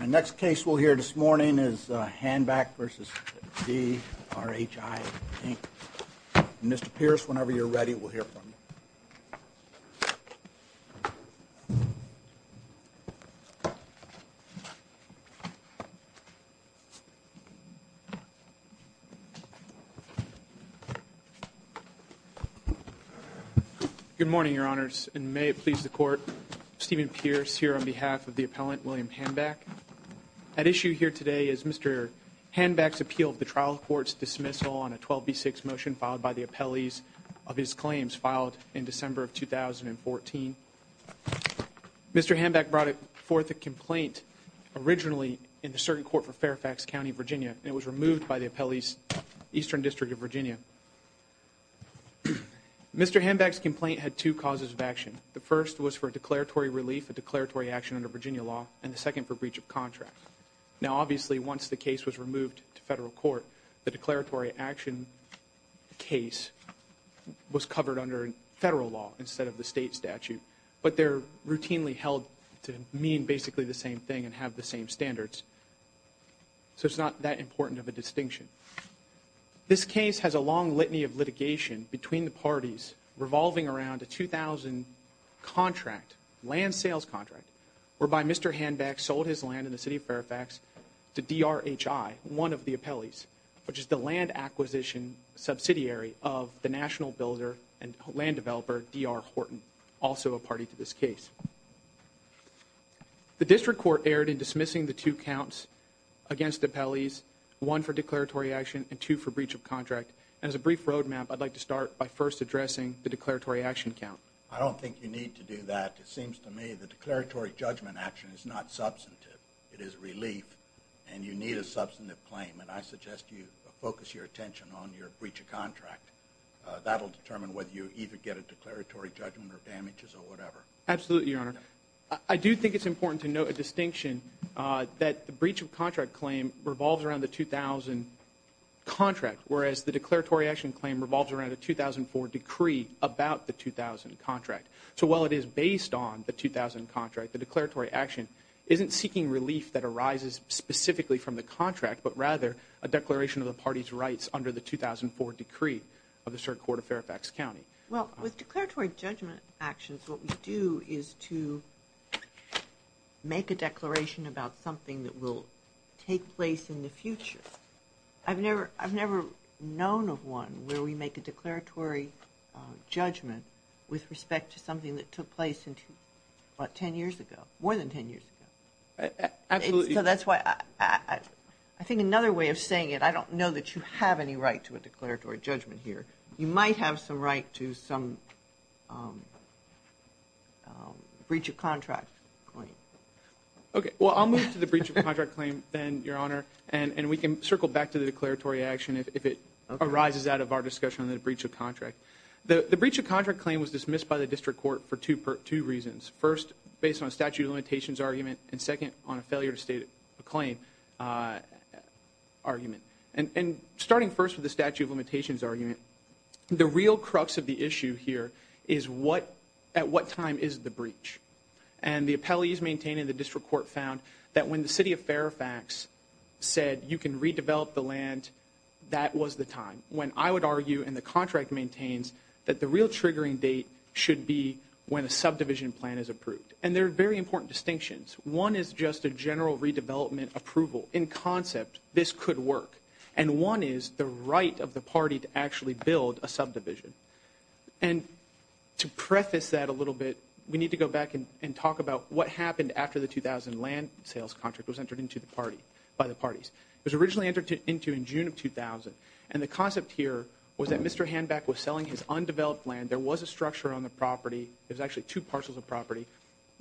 Our next case we'll hear this morning is Hanback v. DRHI, Inc. Mr. Pierce, whenever you're ready, we'll hear from you. Good morning, Your Honors, and may it please the Court, Stephen Pierce here on behalf of the appellant, William Hanback. At issue here today is Mr. Hanback's appeal of the trial court's dismissal on a 12b6 motion filed by the appellees of his claims filed in December of 2014. Mr. Hanback brought forth a complaint originally in the certain court for Fairfax County, Virginia, and it was removed by the appellees' Eastern District of Virginia. Mr. Hanback's complaint had two causes of action. The first was for declaratory relief, a declaratory action under Virginia law, and the second for breach of contract. Now, obviously, once the case was removed to federal court, the declaratory action case was covered under federal law instead of the state statute, but they're routinely held to mean basically the same thing and have the same standards, so it's not that important of a distinction. This case has a long litany of litigation between the parties revolving around a 2000 contract, land sales contract, whereby Mr. Hanback sold his land in the city of Fairfax to DRHI, one of the appellees, which is the land acquisition subsidiary of the national builder and land developer, DR Horton, also a party to this case. The district court erred in dismissing the two counts against appellees, one for declaratory action and two for breach of contract, and as a brief roadmap, I'd like to start by first addressing the declaratory action count. I don't think you need to do that. It seems to me the declaratory judgment action is not substantive. It is relief, and you need a substantive claim, and I suggest you focus your attention on your breach of contract. That will determine whether you either get a declaratory judgment or damages or whatever. Absolutely, Your Honor. I do think it's important to note a distinction that the breach of contract claim revolves around the 2000 contract, whereas the declaratory action claim revolves around a 2004 decree about the 2000 contract. So while it is based on the 2000 contract, the declaratory action isn't seeking relief that arises specifically from the contract, but rather a declaration of the party's rights under the 2004 decree of the District Court of Fairfax County. Well, with declaratory judgment actions, what we do is to make a declaration about something that will take place in the future. I've never known of one where we make a declaratory judgment with respect to something that took place 10 years ago, more than 10 years ago. Absolutely. So that's why I think another way of saying it, I don't know that you have any right to a declaratory judgment here. You might have some right to some breach of contract claim. Okay, well, I'll move to the breach of contract claim then, Your Honor, and we can circle back to the declaratory action if it arises out of our discussion on the breach of contract. The breach of contract claim was dismissed by the District Court for two reasons. First, based on a statute of limitations argument, and second, on a failure to state a claim argument. And starting first with the statute of limitations argument, the real crux of the issue here is at what time is the breach? And the appellees maintaining the District Court found that when the City of Fairfax said, you can redevelop the land, that was the time. When I would argue, and the contract maintains, that the real triggering date should be when a subdivision plan is approved. And there are very important distinctions. One is just a general redevelopment approval. In concept, this could work. And one is the right of the party to actually build a subdivision. And to preface that a little bit, we need to go back and talk about what happened after the 2000 land sales contract was entered into the party, by the parties. It was originally entered into in June of 2000. And the concept here was that Mr. Hanback was selling his undeveloped land. There was a structure on the property. There was actually two parcels of property.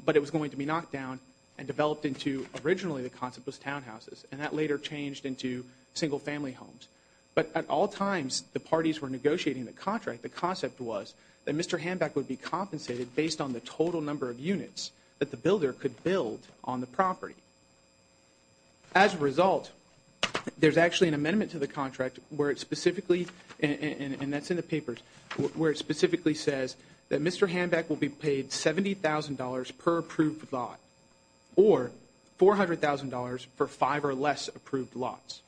But it was going to be knocked down and developed into, originally the concept was townhouses. And that later changed into single family homes. But at all times, the parties were negotiating the contract. The concept was that Mr. Hanback would be compensated based on the total number of units that the builder could build on the property. As a result, there's actually an amendment to the contract where it specifically, and that's in the papers, where it specifically says that Mr. Hanback will be paid $70,000 per approved lot, or $400,000 for five or less approved lots.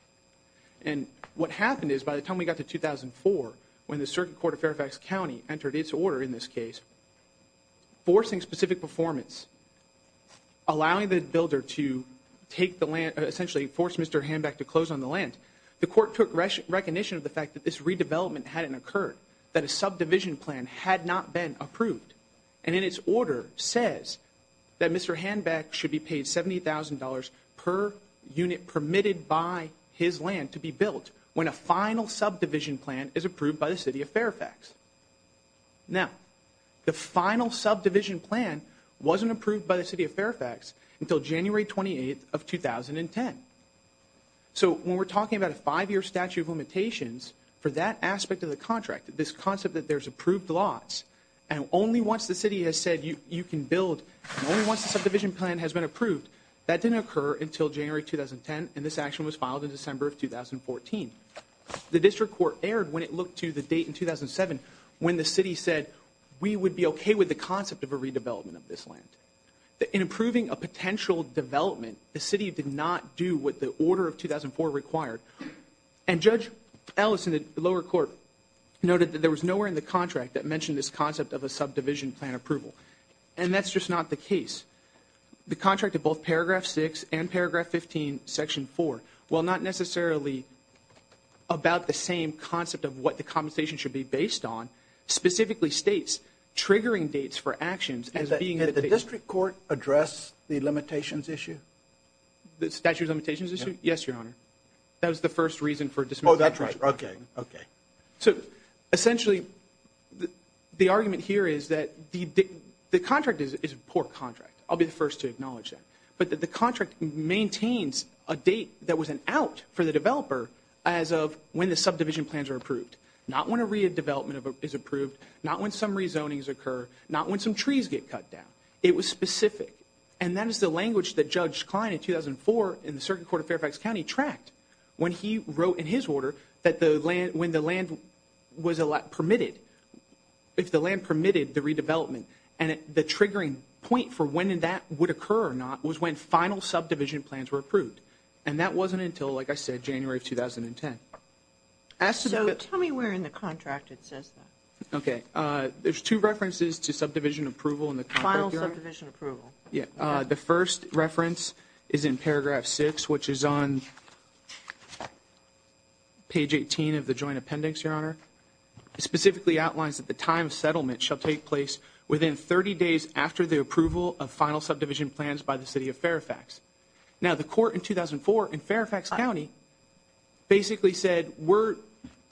And what happened is by the time we got to 2004, when the Circuit Court of Fairfax County entered its order in this case, forcing specific performance, allowing the builder to take the land, essentially force Mr. Hanback to close on the land, the court took recognition of the fact that this redevelopment hadn't occurred, that a subdivision plan had not been approved. And in its order says that Mr. Hanback should be paid $70,000 per unit permitted by his land to be built when a final subdivision plan is approved by the City of Fairfax. Now, the final subdivision plan wasn't approved by the City of Fairfax until January 28th of 2010. So when we're talking about a five-year statute of limitations, for that aspect of the contract, this concept that there's approved lots, and only once the City has said you can build, and only once the subdivision plan has been approved, that didn't occur until January 2010, and this action was filed in December of 2014. The District Court erred when it looked to the date in 2007 when the City said we would be okay with the concept of a redevelopment of this land. In approving a potential development, the City did not do what the order of 2004 required. And Judge Ellis in the lower court noted that there was nowhere in the contract that mentioned this concept of a subdivision plan approval. And that's just not the case. The contract of both Paragraph 6 and Paragraph 15, Section 4, while not necessarily about the same concept of what the compensation should be based on, specifically states triggering dates for actions as being the date... Did the District Court address the limitations issue? The statute of limitations issue? Yes, Your Honor. That was the first reason for dismissing... Oh, that's right. Okay. Okay. So, essentially, the argument here is that the contract is a poor contract. I'll be the first to acknowledge that. But the contract maintains a date that was an out for the developer as of when the subdivision plans were approved. Not when a redevelopment is approved. Not when some rezonings occur. Not when some trees get cut down. It was specific. And that is the language that Judge Klein, in 2004, in the Circuit Court of Fairfax County, tracked when he wrote in his order that when the land was permitted, if the land permitted the redevelopment, and the triggering point for when that would occur or not was when final subdivision plans were approved. And that wasn't until, like I said, January of 2010. So, tell me where in the contract it says that. Okay. There's two references to subdivision approval in the contract. Final subdivision approval. The first reference is in paragraph 6, which is on page 18 of the joint appendix, Your Honor. It specifically outlines that the time of settlement shall take place within 30 days after the approval of final subdivision plans by the City of Fairfax. Now, the court in 2004 in Fairfax County basically said, we're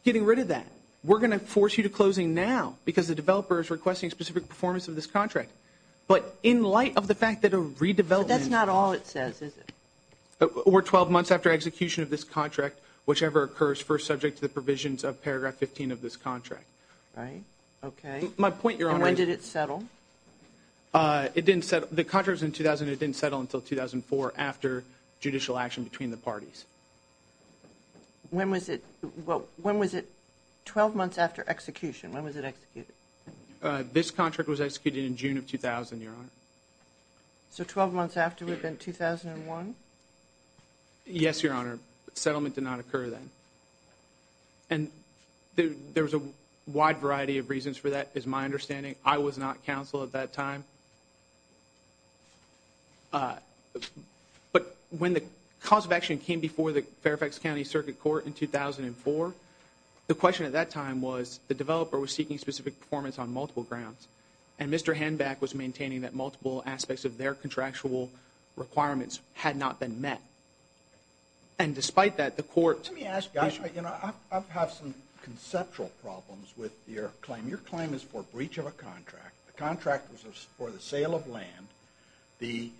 getting rid of that. We're going to force you to closing now because the developer is requesting specific performance of this contract. But in light of the fact that a redevelopment. But that's not all it says, is it? We're 12 months after execution of this contract, whichever occurs first subject to the provisions of paragraph 15 of this contract. Right. Okay. My point, Your Honor. And when did it settle? It didn't settle. The contract was in 2000. It didn't settle until 2004 after judicial action between the parties. When was it 12 months after execution? When was it executed? This contract was executed in June of 2000, Your Honor. So, 12 months after would have been 2001? Yes, Your Honor. Settlement did not occur then. And there was a wide variety of reasons for that, is my understanding. I was not counsel at that time. But when the cause of action came before the Fairfax County Circuit Court in 2004, the question at that time was the developer was seeking specific performance on multiple grounds. And Mr. Hanback was maintaining that multiple aspects of their contractual requirements had not been met. And despite that, the court. Let me ask you, I have some conceptual problems with your claim. Your claim is for breach of a contract. The contract was for the sale of land. The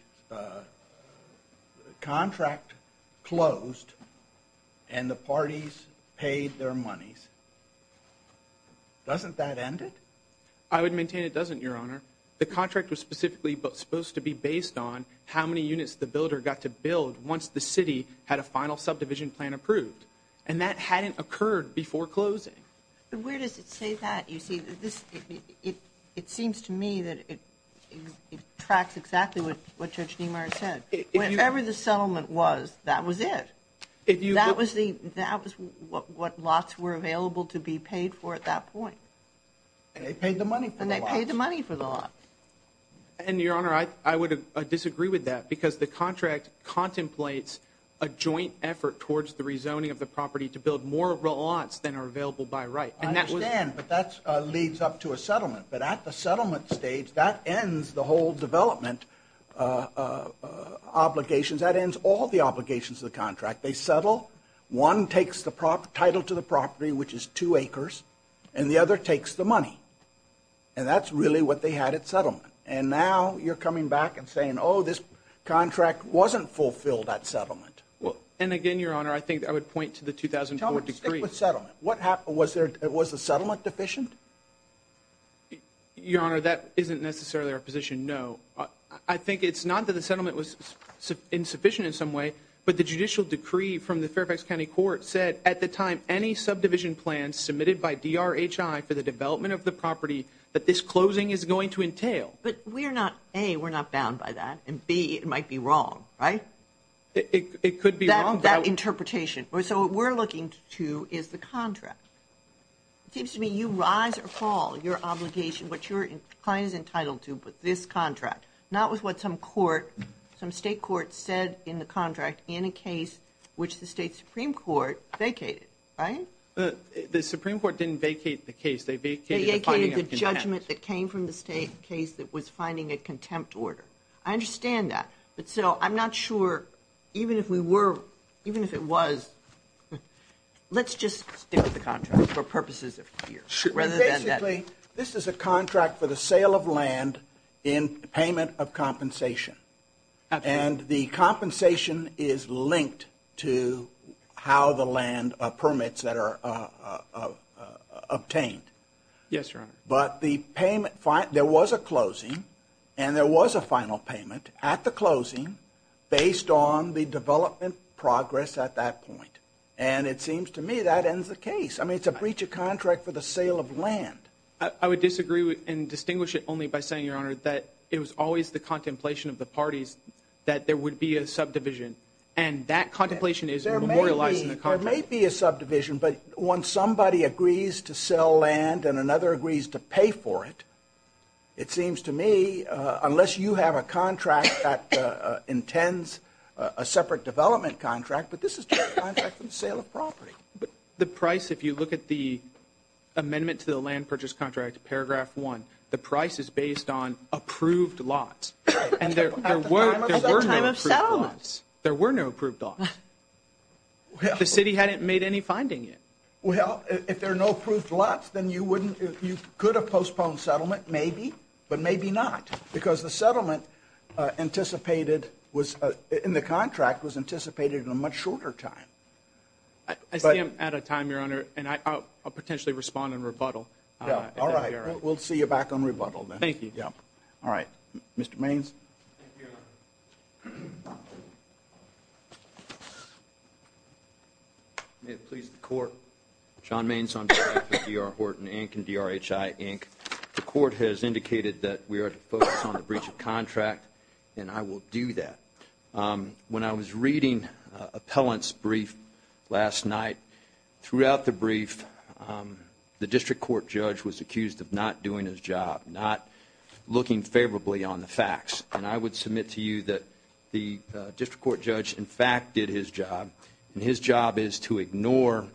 contract closed and the parties paid their monies. Doesn't that end it? I would maintain it doesn't, Your Honor. The contract was specifically supposed to be based on how many units the builder got to build once the city had a final subdivision plan approved. And that hadn't occurred before closing. But where does it say that? You see, it seems to me that it tracks exactly what Judge Niemeyer said. Whatever the settlement was, that was it. That was what lots were available to be paid for at that point. And they paid the money for the lots. And they paid the money for the lots. And, Your Honor, I would disagree with that because the contract contemplates a joint effort towards the rezoning of the property to build more lots than are available by right. I understand, but that leads up to a settlement. But at the settlement stage, that ends the whole development obligations. That ends all the obligations of the contract. They settle. One takes the title to the property, which is two acres, and the other takes the money. And that's really what they had at settlement. And now you're coming back and saying, oh, this contract wasn't fulfilled at settlement. Well, and again, Your Honor, I think I would point to the 2004 decree. Tell me, stick with settlement. What happened? Was the settlement deficient? Your Honor, that isn't necessarily our position, no. I think it's not that the settlement was insufficient in some way, but the judicial decree from the Fairfax County Court said at the time, any subdivision plan submitted by DRHI for the development of the property that this closing is going to entail. But we're not, A, we're not bound by that, and, B, it might be wrong, right? It could be wrong. That interpretation. So what we're looking to is the contract. It seems to me you rise or fall, your obligation, what your client is entitled to with this contract, not with what some court, some state court said in the contract in a case which the state Supreme Court vacated, right? The Supreme Court didn't vacate the case. They vacated the finding of contempt. They vacated the judgment that came from the state case that was finding a contempt order. I understand that. But still, I'm not sure, even if we were, even if it was, let's just stick with the contract for purposes of here rather than that. Basically, this is a contract for the sale of land in payment of compensation. Absolutely. And the compensation is linked to how the land permits that are obtained. Yes, Your Honor. But the payment, there was a closing, and there was a final payment at the closing based on the development progress at that point. And it seems to me that ends the case. I mean, it's a breach of contract for the sale of land. I would disagree and distinguish it only by saying, Your Honor, that it was always the contemplation of the parties that there would be a subdivision. And that contemplation is memorialized in the contract. There may be a subdivision, but when somebody agrees to sell land and another agrees to pay for it, it seems to me, unless you have a contract that intends a separate development contract, but this is just a contract for the sale of property. But the price, if you look at the amendment to the land purchase contract, paragraph one, the price is based on approved lots. And there were no approved lots. There were no approved lots. The city hadn't made any finding yet. Well, if there are no approved lots, then you could have postponed settlement, maybe, but maybe not, because the settlement in the contract was anticipated in a much shorter time. I see I'm out of time, Your Honor, and I'll potentially respond in rebuttal. All right. We'll see you back on rebuttal then. Thank you. All right. Mr. Mains. Thank you, Your Honor. May it please the Court. John Mains on behalf of D.R. Horton, Inc. and D.R. H.I., Inc. The Court has indicated that we are to focus on the breach of contract, and I will do that. When I was reading appellant's brief last night, throughout the brief, the district court judge was accused of not doing his job, not looking favorably on the facts. And I would submit to you that the district court judge, in fact, did his job, and his job is to ignore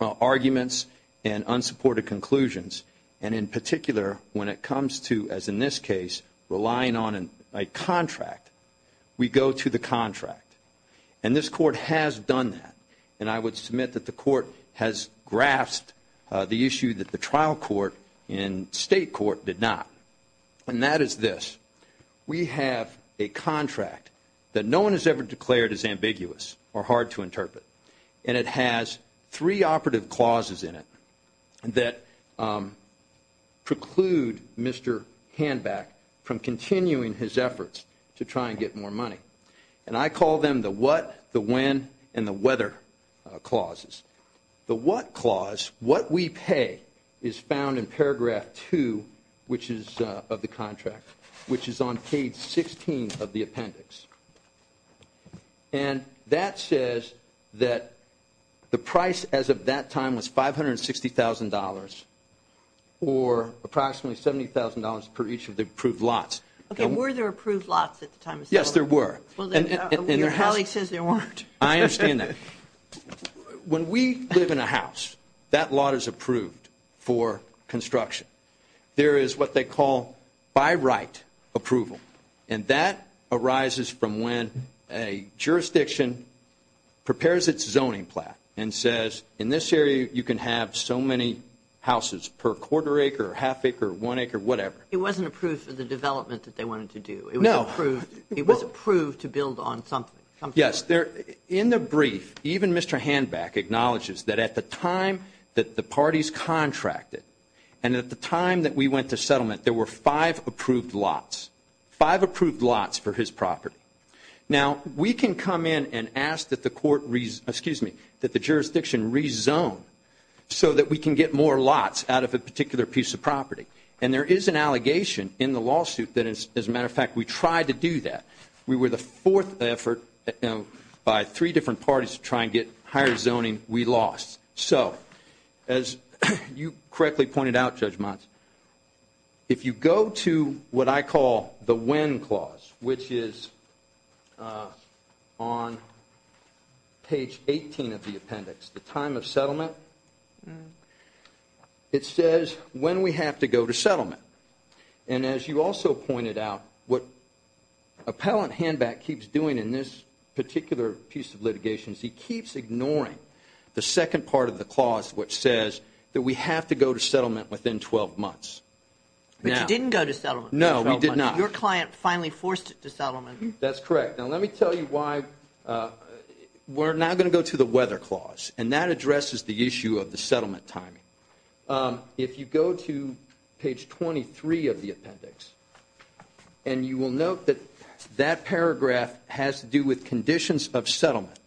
arguments and unsupported conclusions. And in particular, when it comes to, as in this case, relying on a contract, we go to the contract. And this Court has done that. And I would submit that the Court has grasped the issue that the trial court in state court did not. And that is this. We have a contract that no one has ever declared as ambiguous or hard to interpret. And it has three operative clauses in it that preclude Mr. Handback from continuing his efforts to try and get more money. And I call them the what, the when, and the whether clauses. The what clause, what we pay, is found in paragraph two of the contract, which is on page 16 of the appendix. And that says that the price as of that time was $560,000, or approximately $70,000 per each of the approved lots. Okay, were there approved lots at the time of settlement? Yes, there were. Your colleague says there weren't. I understand that. When we live in a house, that lot is approved for construction. There is what they call by right approval. And that arises from when a jurisdiction prepares its zoning plan and says, in this area you can have so many houses per quarter acre or half acre or one acre, whatever. It wasn't approved for the development that they wanted to do. No. It was approved to build on something. Yes. In the brief, even Mr. Handback acknowledges that at the time that the parties contracted and at the time that we went to settlement, there were five approved lots, five approved lots for his property. Now, we can come in and ask that the court, excuse me, that the jurisdiction rezone so that we can get more lots out of a particular piece of property. And there is an allegation in the lawsuit that, as a matter of fact, we tried to do that. We were the fourth effort by three different parties to try and get higher zoning. We lost. So as you correctly pointed out, Judge Mons, if you go to what I call the when clause, which is on page 18 of the appendix, the time of settlement, it says when we have to go to settlement. And as you also pointed out, what Appellant Handback keeps doing in this particular piece of litigation is he keeps ignoring the second part of the clause, which says that we have to go to settlement within 12 months. But you didn't go to settlement. No, we did not. Your client finally forced it to settlement. That's correct. Now, let me tell you why. We're now going to go to the weather clause, and that addresses the issue of the settlement timing. If you go to page 23 of the appendix, and you will note that that paragraph has to do with conditions of settlement.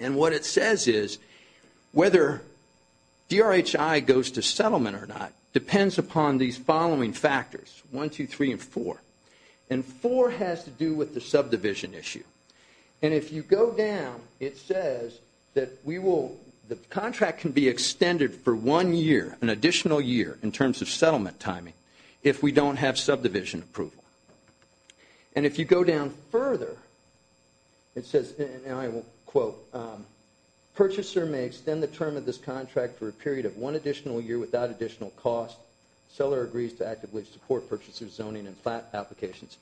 And what it says is whether DRHI goes to settlement or not depends upon these following factors, 1, 2, 3, and 4. And 4 has to do with the subdivision issue. And if you go down, it says that the contract can be extended for one year, an additional year, in terms of settlement timing if we don't have subdivision approval. And if you go down further, it says, and I will quote, purchaser may extend the term of this contract for a period of one additional year without additional cost. Seller agrees to actively support purchaser zoning and flat applications.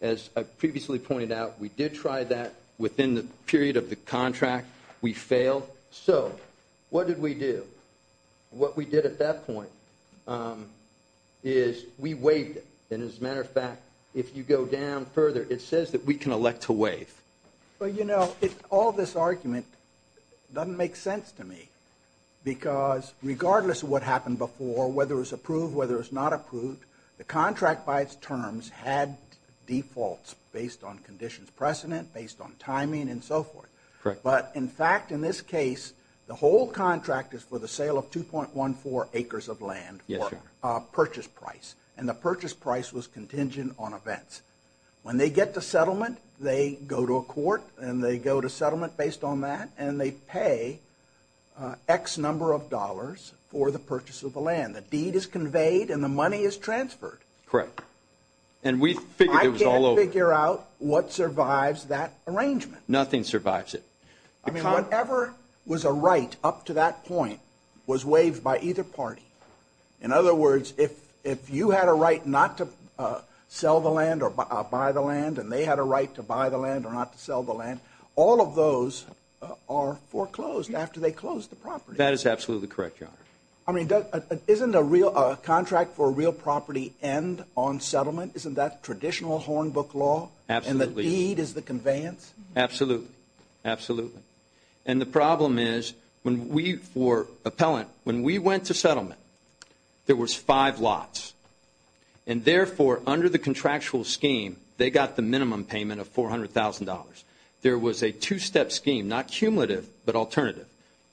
As I previously pointed out, we did try that within the period of the contract. We failed. So what did we do? What we did at that point is we waived it. And as a matter of fact, if you go down further, it says that we can elect to waive. Well, you know, all this argument doesn't make sense to me because regardless of what happened before, whether it was approved, whether it was not approved, the contract, by its terms, had defaults based on conditions precedent, based on timing, and so forth. But in fact, in this case, the whole contract is for the sale of 2.14 acres of land for purchase price. And the purchase price was contingent on events. When they get to settlement, they go to a court, and they go to settlement based on that, and they pay X number of dollars for the purchase of the land. The deed is conveyed and the money is transferred. Correct. And we figured it was all over. I can't figure out what survives that arrangement. Nothing survives it. I mean, whatever was a right up to that point was waived by either party. In other words, if you had a right not to sell the land or buy the land, and they had a right to buy the land or not to sell the land, all of those are foreclosed after they close the property. That is absolutely correct, Your Honor. I mean, isn't a contract for a real property end on settlement? Isn't that traditional Hornbook law? Absolutely. And the deed is the conveyance? Absolutely. Absolutely. And the problem is when we, for appellant, when we went to settlement, there was five lots. And therefore, under the contractual scheme, they got the minimum payment of $400,000. There was a two-step scheme, not cumulative but alternative.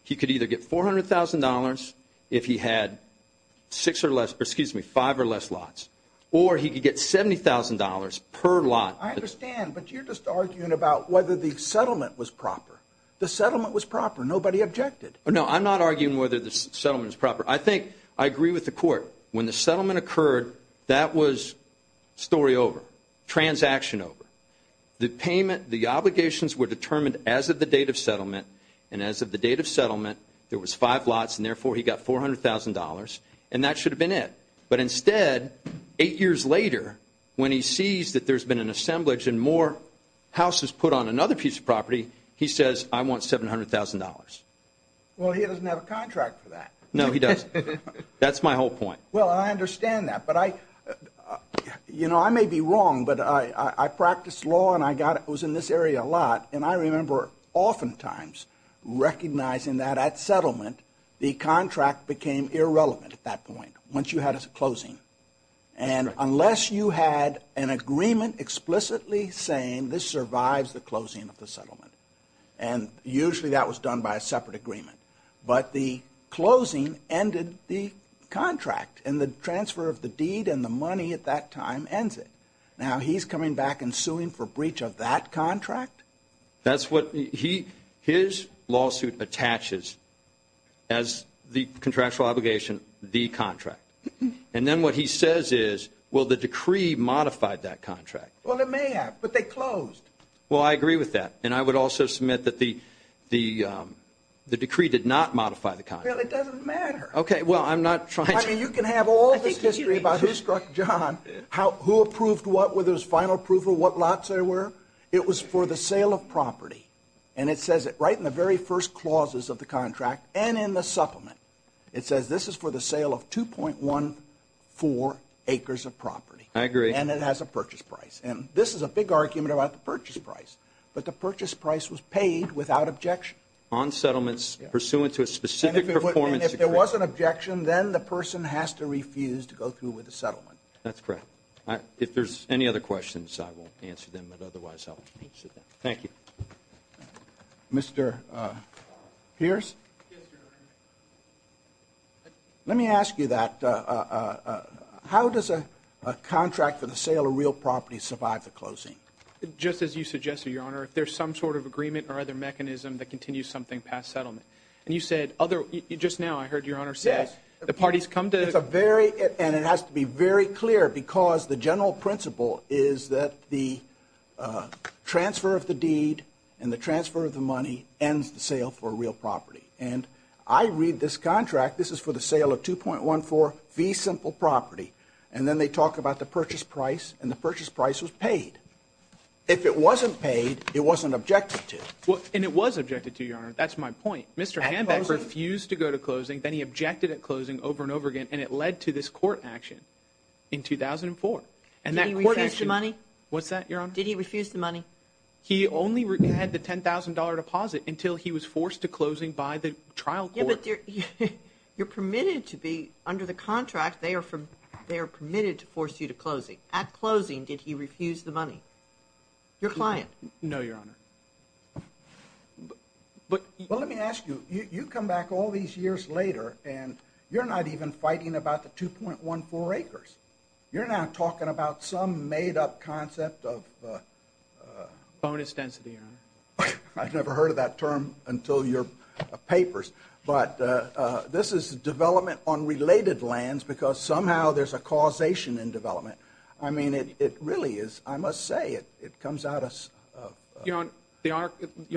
He could either get $400,000 if he had five or less lots, or he could get $70,000 per lot. I understand, but you're just arguing about whether the settlement was proper. The settlement was proper. Nobody objected. No, I'm not arguing whether the settlement was proper. I think I agree with the court. When the settlement occurred, that was story over, transaction over. The payment, the obligations were determined as of the date of settlement. And as of the date of settlement, there was five lots, and therefore, he got $400,000. And that should have been it. But instead, eight years later, when he sees that there's been an assemblage and more houses put on another piece of property, he says, I want $700,000. Well, he doesn't have a contract for that. No, he doesn't. That's my whole point. Well, I understand that. You know, I may be wrong, but I practiced law and I got it. It was in this area a lot. And I remember oftentimes recognizing that at settlement, the contract became irrelevant at that point once you had a closing. And unless you had an agreement explicitly saying this survives the closing of the settlement, and usually that was done by a separate agreement, but the closing ended the contract, and the transfer of the deed and the money at that time ends it. Now, he's coming back and suing for breach of that contract? That's what he his lawsuit attaches as the contractual obligation, the contract. And then what he says is, well, the decree modified that contract. Well, it may have, but they closed. Well, I agree with that. And I would also submit that the decree did not modify the contract. Well, it doesn't matter. Okay, well, I'm not trying to. I mean, you can have all this history about who struck John, who approved what, whether it was final approval, what lots there were. It was for the sale of property. And it says it right in the very first clauses of the contract and in the supplement. It says this is for the sale of 2.14 acres of property. I agree. And it has a purchase price. And this is a big argument about the purchase price. But the purchase price was paid without objection. On settlements pursuant to a specific performance decree. And if there was an objection, then the person has to refuse to go through with the settlement. That's correct. If there's any other questions, I will answer them. But otherwise, I won't answer them. Thank you. Mr. Pierce? Yes, Your Honor. Let me ask you that. How does a contract for the sale of real property survive the closing? Just as you suggested, Your Honor, if there's some sort of agreement or other mechanism that continues something past settlement. And you said other, just now I heard Your Honor say the parties come to. It's a very, and it has to be very clear because the general principle is that the transfer of the deed and the transfer of the money ends the sale for real property. And I read this contract. This is for the sale of 2.14 fee simple property. And then they talk about the purchase price, and the purchase price was paid. If it wasn't paid, it wasn't objected to. And it was objected to, Your Honor. That's my point. Mr. Hanbeck refused to go to closing. Then he objected at closing over and over again, and it led to this court action in 2004. Did he refuse the money? What's that, Your Honor? Did he refuse the money? He only had the $10,000 deposit until he was forced to closing by the trial court. You're permitted to be under the contract. They are permitted to force you to closing. At closing, did he refuse the money? Your client? No, Your Honor. Well, let me ask you. You come back all these years later, and you're not even fighting about the 2.14 acres. Bonus density, Your Honor. I've never heard of that term until your papers. But this is development on related lands, because somehow there's a causation in development. I mean, it really is. I must say, it comes out of... Your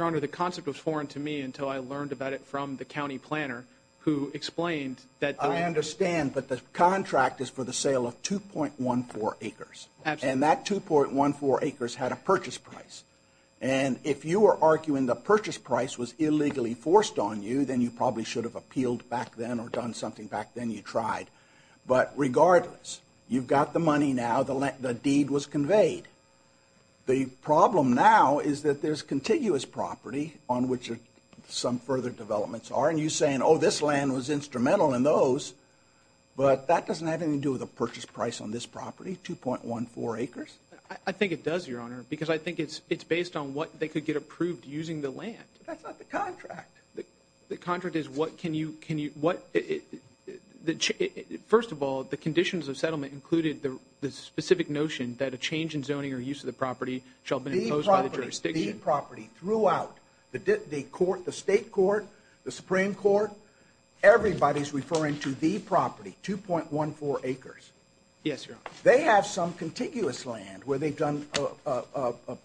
Honor, the concept was foreign to me until I learned about it from the county planner, who explained that... I understand, but the contract is for the sale of 2.14 acres. Absolutely. And that 2.14 acres had a purchase price. And if you are arguing the purchase price was illegally forced on you, then you probably should have appealed back then or done something back then you tried. But regardless, you've got the money now. The deed was conveyed. The problem now is that there's contiguous property on which some further developments are. And you're saying, oh, this land was instrumental in those. But that doesn't have anything to do with the purchase price on this property, 2.14 acres. I think it does, Your Honor, because I think it's based on what they could get approved using the land. That's not the contract. The contract is what can you... First of all, the conditions of settlement included the specific notion that a change in zoning or use of the property shall be imposed by the jurisdiction. The property throughout the court, the state court, the Supreme Court, everybody's referring to the property, 2.14 acres. Yes, Your Honor. They have some contiguous land where they've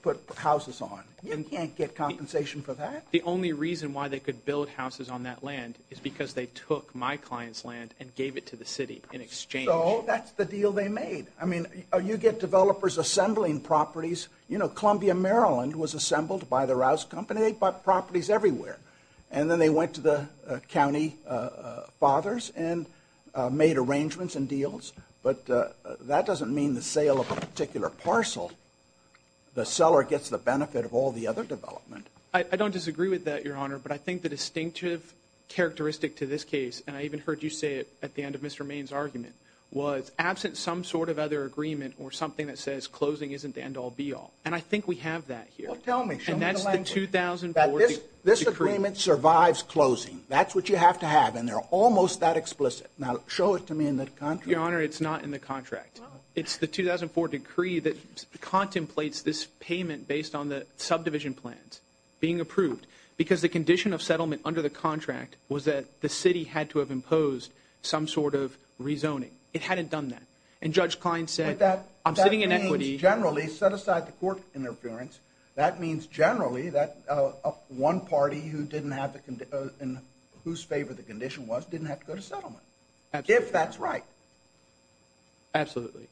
put houses on. You can't get compensation for that. The only reason why they could build houses on that land is because they took my client's land and gave it to the city in exchange. So that's the deal they made. I mean, you get developers assembling properties. You know, Columbia, Maryland was assembled by the Rouse Company. They bought properties everywhere. And then they went to the county fathers and made arrangements and deals. But that doesn't mean the sale of a particular parcel. The seller gets the benefit of all the other development. I don't disagree with that, Your Honor, but I think the distinctive characteristic to this case, and I even heard you say it at the end of Mr. Maine's argument, was absent some sort of other agreement or something that says closing isn't the end-all, be-all. And I think we have that here. Well, tell me. Show me the language. And that's the 2004 decree. This agreement survives closing. That's what you have to have, and they're almost that explicit. Now, show it to me in the contract. Your Honor, it's not in the contract. It's the 2004 decree that contemplates this payment based on the subdivision plans being approved because the condition of settlement under the contract was that the city had to have imposed some sort of rezoning. It hadn't done that. And Judge Klein said, I'm sitting in equity. But that means generally, set aside the court interference, that means generally that one party whose favor the condition was didn't have to go to settlement, if that's right. Absolutely.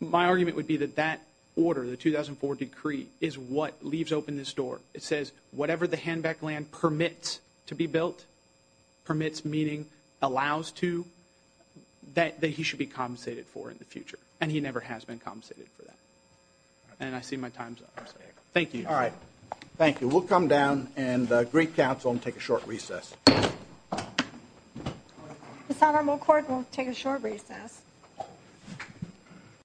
My argument would be that that order, the 2004 decree, is what leaves open this door. It says whatever the handback land permits to be built, permits meaning allows to, that he should be compensated for in the future. And he never has been compensated for that. And I see my time's up. Thank you, Your Honor. All right. Thank you. We'll come down and agree counsel and take a short recess. The Sovereign Moot Court will take a short recess.